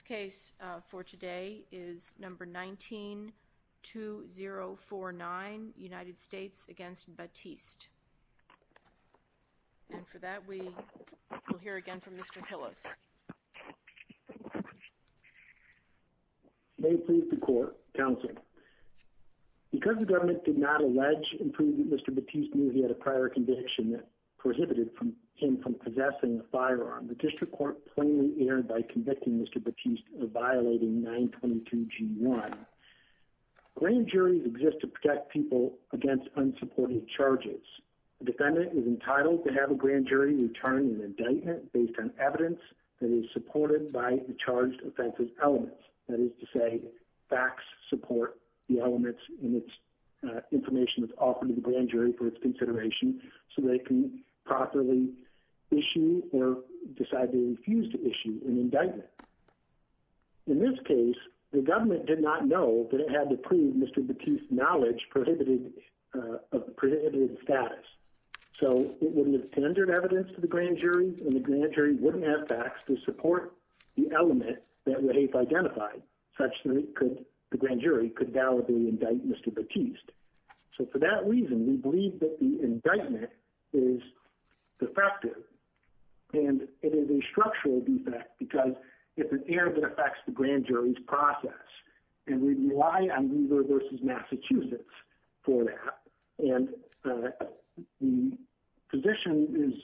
The case for today is number 19-2049, United States v. Battiste. And for that, we will hear again from Mr. Hillis. May it please the Court, Counsel. Because the government did not allege and prove that Mr. Battiste knew he had a prior conviction that prohibited him from possessing a firearm, the District Court plainly erred by convicting Mr. Battiste of violating 922G1. Grand juries exist to protect people against unsupported charges. A defendant is entitled to have a grand jury return an indictment based on evidence that is supported by the charged offense's elements. That is to say, facts support the elements in its information that's offered to the grand jury for its consideration so that it can properly issue or decide to refuse to issue an indictment. In this case, the government did not know that it had to prove Mr. Battiste's knowledge of prohibited status. So it wouldn't have tendered evidence to the grand jury, and the grand jury wouldn't have facts to support the element that it had identified, such that the grand jury could validly indict Mr. Battiste. So for that reason, we believe that the indictment is defective. And it is a structural defect because it's an error that affects the grand jury's process. And we rely on Weaver v. Massachusetts for that. And the position is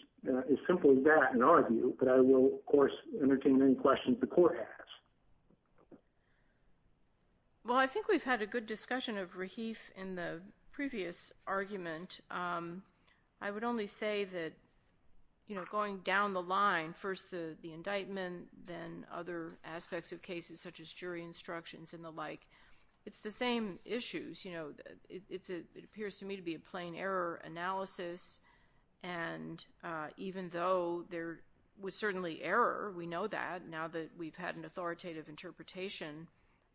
as simple as that in our view, but I will, of course, entertain any questions the Court has. Well, I think we've had a good discussion of Rahif in the previous argument. I would only say that, you know, going down the line, first the indictment, then other aspects of cases such as jury instructions and the like, it's the same issues. You know, it appears to me to be a plain error analysis, and even though there was certainly error, we know that, now that we've had an authoritative interpretation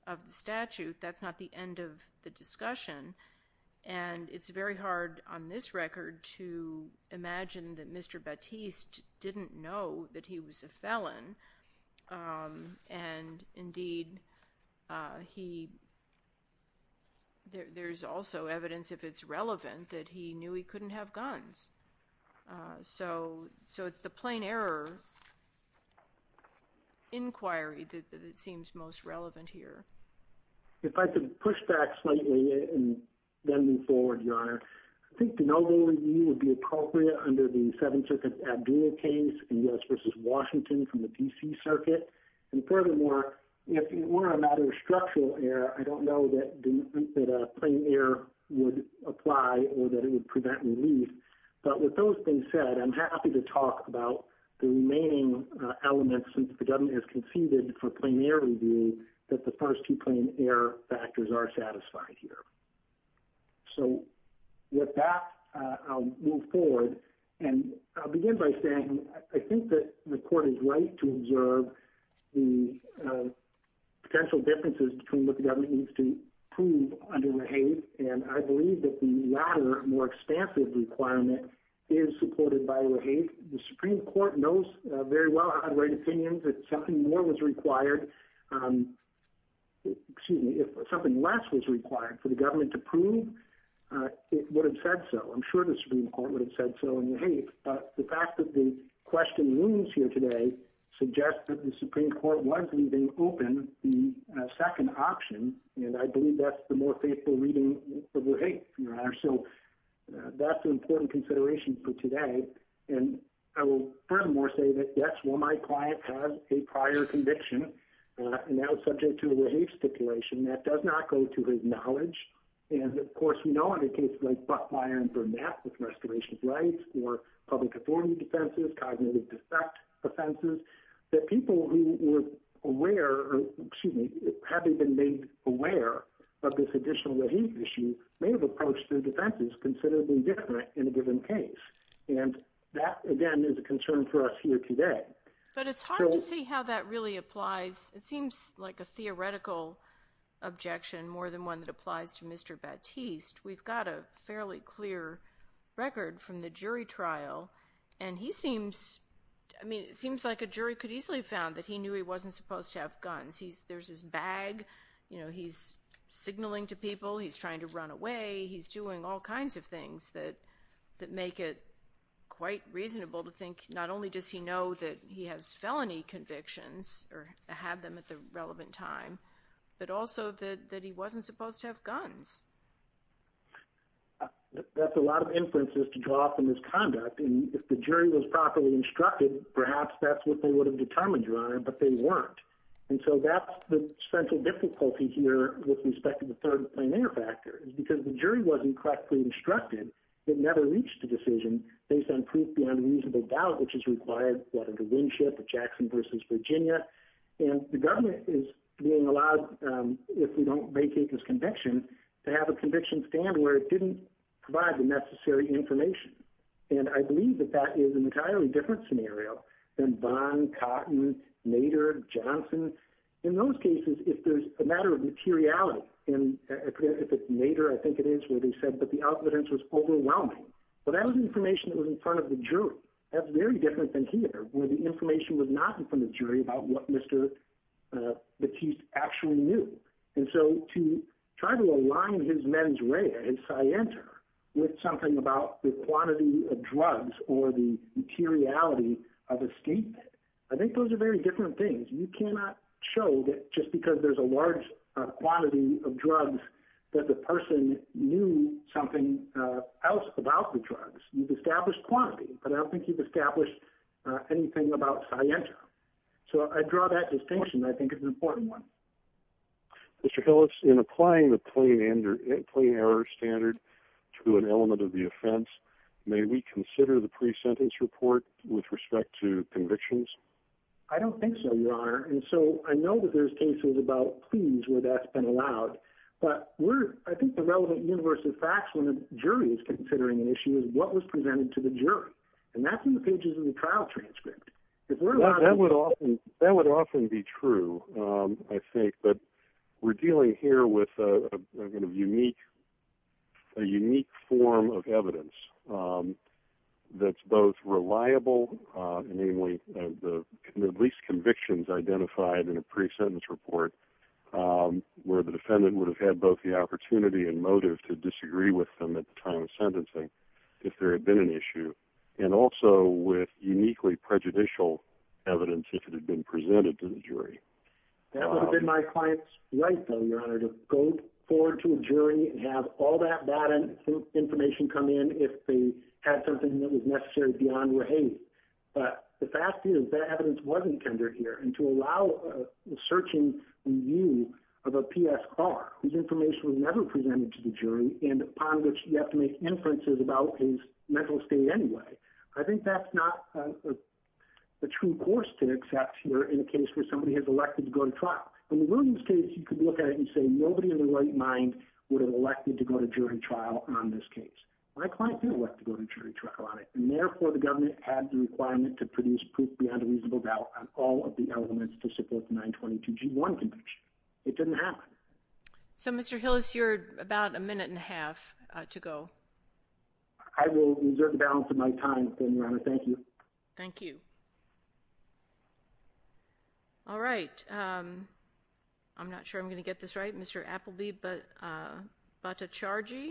of the statute, that's not the end of the discussion. And it's very hard on this record to imagine that Mr. Battiste didn't know that he was a felon. And, indeed, there's also evidence, if it's relevant, that he knew he couldn't have guns. So it's the plain error inquiry that seems most relevant here. If I could push back slightly and then move forward, Your Honor, I think the noble review would be appropriate under the Seventh Circuit Abdul case in U.S. v. Washington from the D.C. Circuit. And, furthermore, if it were a matter of structural error, I don't know that a plain error would apply or that it would prevent relief. But with those being said, I'm happy to talk about the remaining elements, since the government has conceded for plain error review, that the first two plain error factors are satisfied here. So with that, I'll move forward. And I'll begin by saying I think that the Court is right to observe the potential differences between what the government needs to prove under Rahate. And I believe that the latter, more expansive requirement, is supported by Rahate. The Supreme Court knows very well how to write opinions. If something more was required – excuse me, if something less was required for the government to prove, it would have said so. I'm sure the Supreme Court would have said so in Rahate. But the fact that the question remains here today suggests that the Supreme Court was leaving open the second option, and I believe that's the more faithful reading of Rahate, Your Honor. So that's an important consideration for today. And I will furthermore say that, yes, while my client has a prior conviction, and that was subject to a Rahate stipulation, that does not go to his knowledge. And, of course, we know under cases like Buckmeyer and Burnett with restorations rights or public authority defenses, cognitive defect offenses, that people who were aware – excuse me, having been made aware of this additional Rahate issue may have approached their defenses considerably different in a given case. And that, again, is a concern for us here today. But it's hard to see how that really applies. It seems like a theoretical objection more than one that applies to Mr. Baptiste. We've got a fairly clear record from the jury trial, and he seems – I mean, it seems like a jury could easily have found that he knew he wasn't supposed to have guns. There's his bag. You know, he's signaling to people he's trying to run away. He's doing all kinds of things that make it quite reasonable to think not only does he know that he has felony convictions or had them at the relevant time, but also that he wasn't supposed to have guns. That's a lot of inferences to draw from his conduct. And if the jury was properly instructed, perhaps that's what they would have determined, Your Honor, but they weren't. And so that's the central difficulty here with respect to the third primary factor is because the jury wasn't correctly instructed. It never reached a decision based on proof beyond a reasonable doubt, which is required, what, under Winship or Jackson v. Virginia. And the government is being allowed, if we don't vacate this conviction, to have a conviction stand where it didn't provide the necessary information. And I believe that that is an entirely different scenario than Vaughn, Cotton, Nader, Johnson. In those cases, if there's a matter of materiality, and if it's Nader, I think it is, where they said that the evidence was overwhelming. Well, that was information that was in front of the jury. That's very different than here, where the information was not in front of the jury about what Mr. Batiste actually knew. And so to try to align his mens rea and scienter with something about the quantity of drugs or the materiality of a statement, I think those are very different things. You cannot show that just because there's a large quantity of drugs that the person knew something else about the drugs. You've established quantity, but I don't think you've established anything about scienter. So I draw that distinction, I think it's an important one. Mr. Hillis, in applying the plain error standard to an element of the offense, may we consider the pre-sentence report with respect to convictions? I don't think so, Your Honor. And so I know that there's cases about pleas where that's been allowed, but I think the relevant universe of facts when a jury is considering an issue is what was presented to the jury, and that's in the pages of the trial transcript. That would often be true, I think, but we're dealing here with a unique form of evidence that's both reliable, namely at least convictions identified in a pre-sentence report where the defendant would have had both the opportunity and motive to disagree with them at the time of sentencing if there had been an issue, and also with uniquely prejudicial evidence if it had been presented to the jury. That would have been my client's right, though, Your Honor, to go forward to a jury and have all that bad information come in if they had something that was necessary beyond your hate. But the fact is that evidence wasn't tendered here, and to allow a searching view of a PSR whose information was never presented to the jury and upon which you have to make inferences about his mental state anyway, I think that's not the true course to accept here in a case where somebody has elected to go to trial. In the Williams case, you could look at it and say nobody in their right mind would have elected to go to jury trial on this case. My client did elect to go to jury trial on it, and therefore the government had the requirement to produce proof beyond a reasonable doubt on all of the elements to support the 922G1 conviction. It didn't happen. So, Mr. Hillis, you're about a minute and a half to go. I will exert the balance of my time, then, Your Honor. Thank you. Thank you. All right. I'm not sure I'm going to get this right. Mr. Appleby-Battacargi,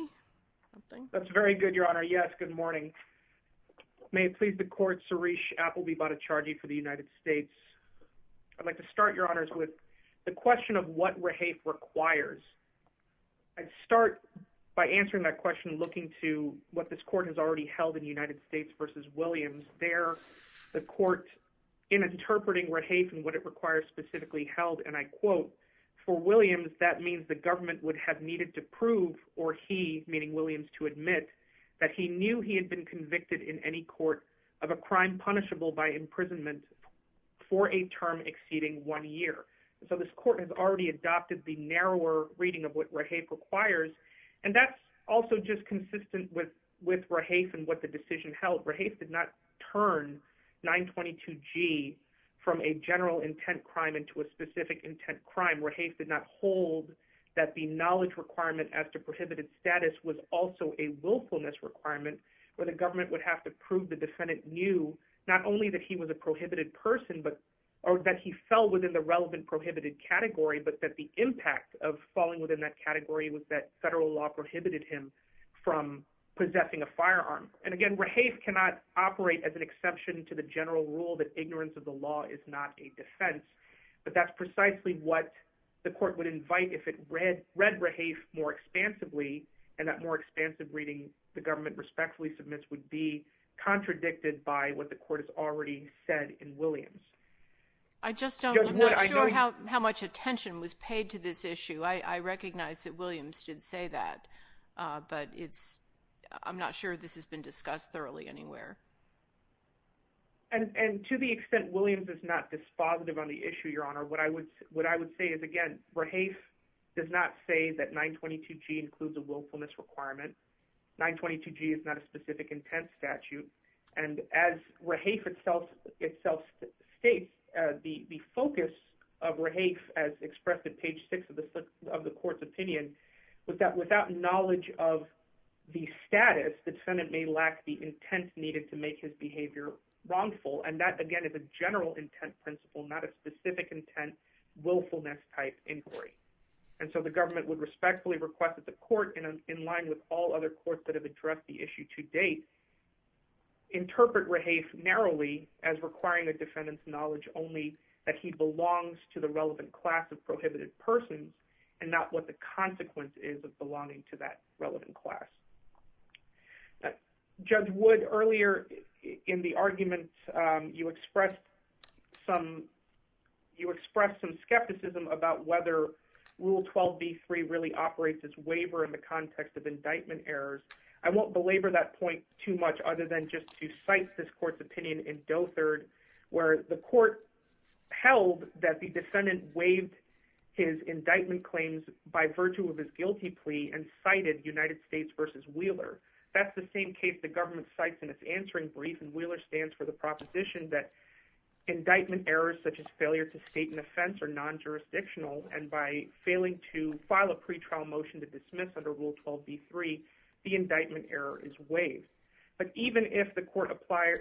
something? That's very good, Your Honor. Yes, good morning. May it please the Court, Suresh Appleby-Battacargi for the United States. I'd like to start, Your Honors, with the question of what rehafe requires. I'd start by answering that question looking to what this Court has already held in United States v. Williams. There, the Court, in interpreting rehafe and what it requires specifically held, and I quote, for Williams, that means the government would have needed to prove or he, meaning Williams, to admit that he knew he had been convicted in any court of a crime punishable by imprisonment for a term exceeding one year. So this Court has already adopted the narrower reading of what rehafe requires, and that's also just consistent with rehafe and what the decision held. Rehafe did not turn 922G from a general intent crime into a specific intent crime. Rehafe did not hold that the knowledge requirement as to prohibited status was also a willfulness requirement where the government would have to prove the defendant knew not only that he was a prohibited person or that he fell within the relevant prohibited category, but that the impact of falling within that category was that federal law prohibited him from possessing a firearm. And again, rehafe cannot operate as an exception to the general rule that ignorance of the law is not a defense, but that's precisely what the Court would invite if it read rehafe more expansively, and that more expansive reading the government respectfully submits would be contradicted by what the Court has already said in Williams. I just don't, I'm not sure how much attention was paid to this issue. I recognize that Williams did say that, but it's, I'm not sure this has been discussed thoroughly anywhere. And to the extent Williams is not dispositive on the issue, Your Honor, what I would say is, again, rehafe does not say that 922G includes a willfulness requirement. 922G is not a specific intent statute, and as rehafe itself states, the focus of rehafe as expressed at page 6 of the Court's opinion was that without knowledge of the status, the defendant may lack the intent needed to make his behavior wrongful. And that, again, is a general intent principle, not a specific intent, willfulness-type inquiry. And so the government would respectfully request that the Court, in line with all other courts that have addressed the issue to date, interpret rehafe narrowly as requiring a defendant's knowledge only that he belongs to the relevant class of prohibited persons and not what the consequence is of belonging to that relevant class. Judge Wood, earlier in the argument, you expressed some, you expressed some skepticism about whether Rule 12b-3 really operates as waiver in the context of indictment errors. I won't belabor that point too much other than just to cite this Court's opinion in Dothard, where the Court held that the defendant waived his indictment claims by virtue of his guilty plea and cited United States v. Wheeler. That's the same case the government cites in its answering brief, and Wheeler stands for the proposition that indictment errors such as failure to state an offense are non-jurisdictional, and by failing to file a pretrial motion to dismiss under Rule 12b-3, the indictment error is waived. But even if the Court applies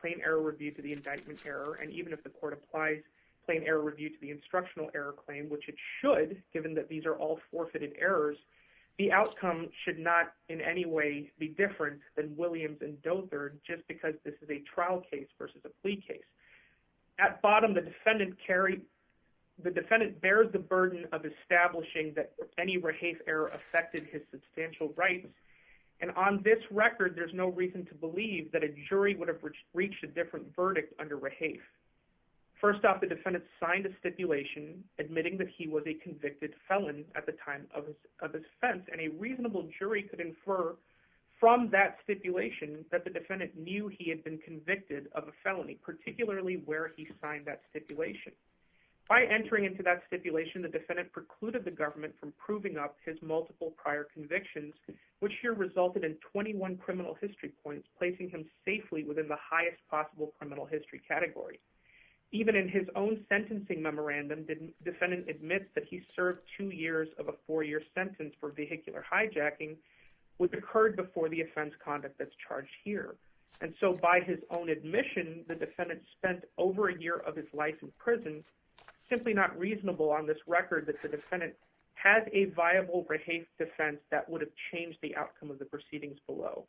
plain error review to the indictment error, and even if the Court applies plain error review to the instructional error claim, which it should given that these are all forfeited errors, the outcome should not in any way be different than Williams and Dothard just because this is a trial case versus a plea case. At bottom, the defendant bears the burden of establishing that any Rahafe error affected his substantial rights, and on this record, there's no reason to believe that a jury would have reached a different verdict under Rahafe. First off, the defendant signed a stipulation admitting that he was a convicted felon at the time of his offense, and a reasonable jury could infer from that stipulation that the defendant knew he had been convicted of a felony, particularly where he signed that stipulation. By entering into that stipulation, the defendant precluded the government from proving up his multiple prior convictions, which here resulted in 21 criminal history points, placing him safely within the highest possible criminal history category. Even in his own sentencing memorandum, the defendant admits that he served two years of a four-year sentence for vehicular hijacking, which occurred before the offense conduct that's charged here. And so by his own admission, the defendant spent over a year of his life in prison, simply not reasonable on this record that the defendant has a viable Rahafe defense that would have changed the outcome of the proceedings below.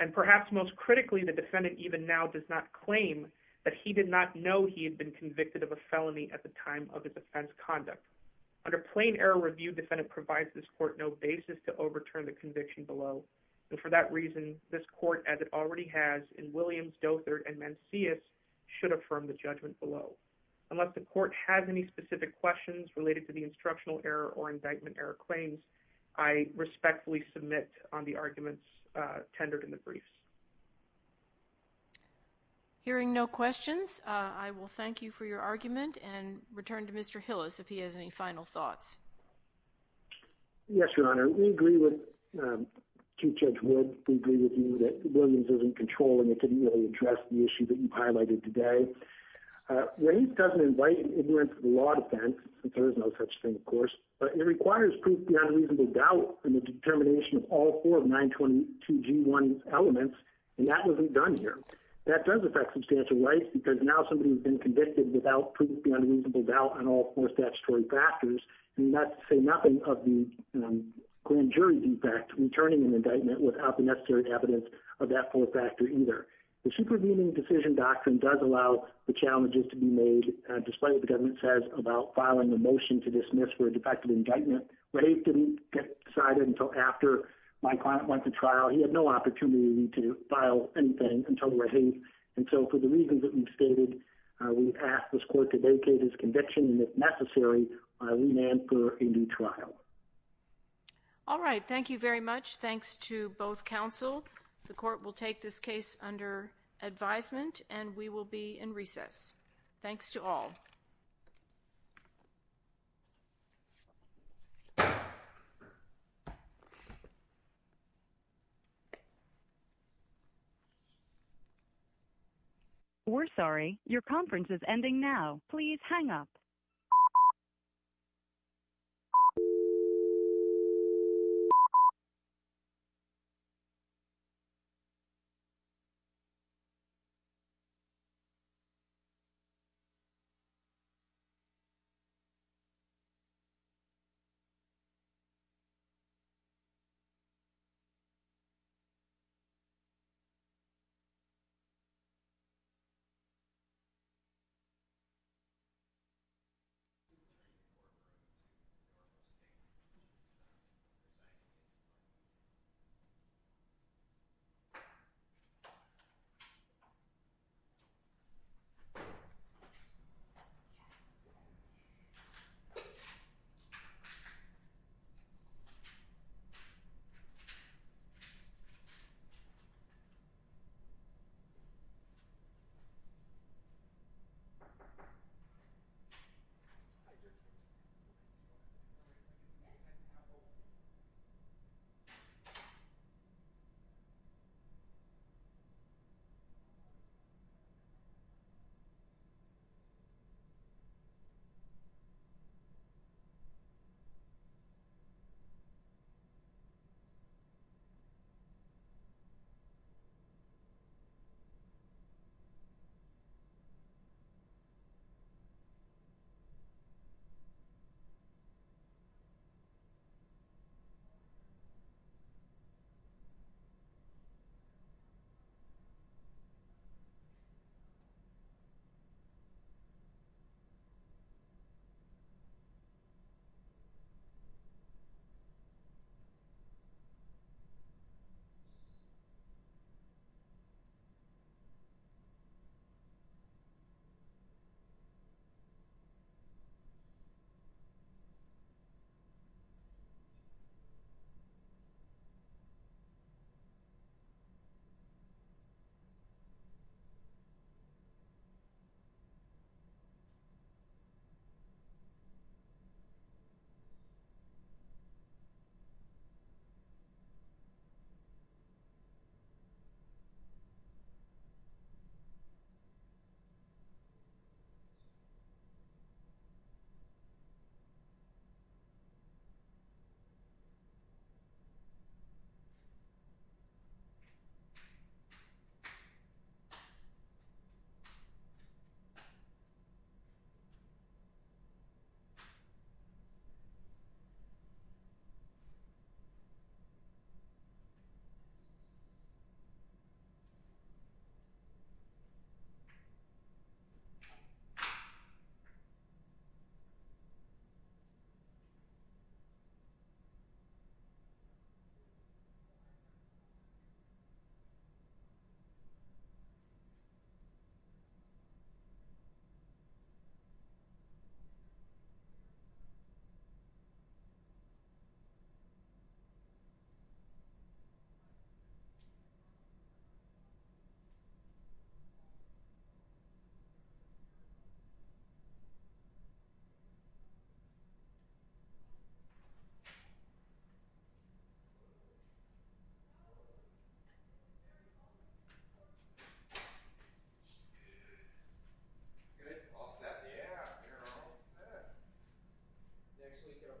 And perhaps most critically, the defendant even now does not claim that he did not know he had been convicted of a felony at the time of his offense conduct. Under plain error review, defendant provides this court no basis to overturn the conviction below, and for that reason, this court, as it already has in Williams, Dothert, and Mancius, should affirm the judgment below. Unless the court has any specific questions related to the instructional error or indictment error claims, I respectfully submit on the arguments tendered in the briefs. Hearing no questions, I will thank you for your argument and return to Mr. Hillis if he has any final thoughts. Yes, Your Honor. We agree with Chief Judge Wood. We agree with you that Williams is in control, and it didn't really address the issue that you highlighted today. Rafe doesn't invite ignorance to the law defense, since there is no such thing, of course, but it requires proof beyond reasonable doubt in the determination of all four of 922G1 elements, and that wasn't done here. That does affect substantial rights because now somebody has been convicted without proof beyond reasonable doubt on all four statutory factors, and not to say nothing of the grand jury defect returning an indictment without the necessary evidence of that four factor either. The supervening decision doctrine does allow the challenges to be made, despite what the government says about filing a motion to dismiss for a defective indictment. Rafe didn't get decided until after my client went to trial. He had no opportunity to file anything until Rafe, and so for the reasons that you've stated, we ask this court to vacate his conviction, and if necessary, remand for a new trial. All right. Thank you very much. Thanks to both counsel. The court will take this case under advisement, and we will be in recess. Thanks to all. We're sorry. Your conference is ending now. Please hang up. Thank you. Thank you. Thank you. Thank you. Thank you. Thank you. Thank you. Thank you.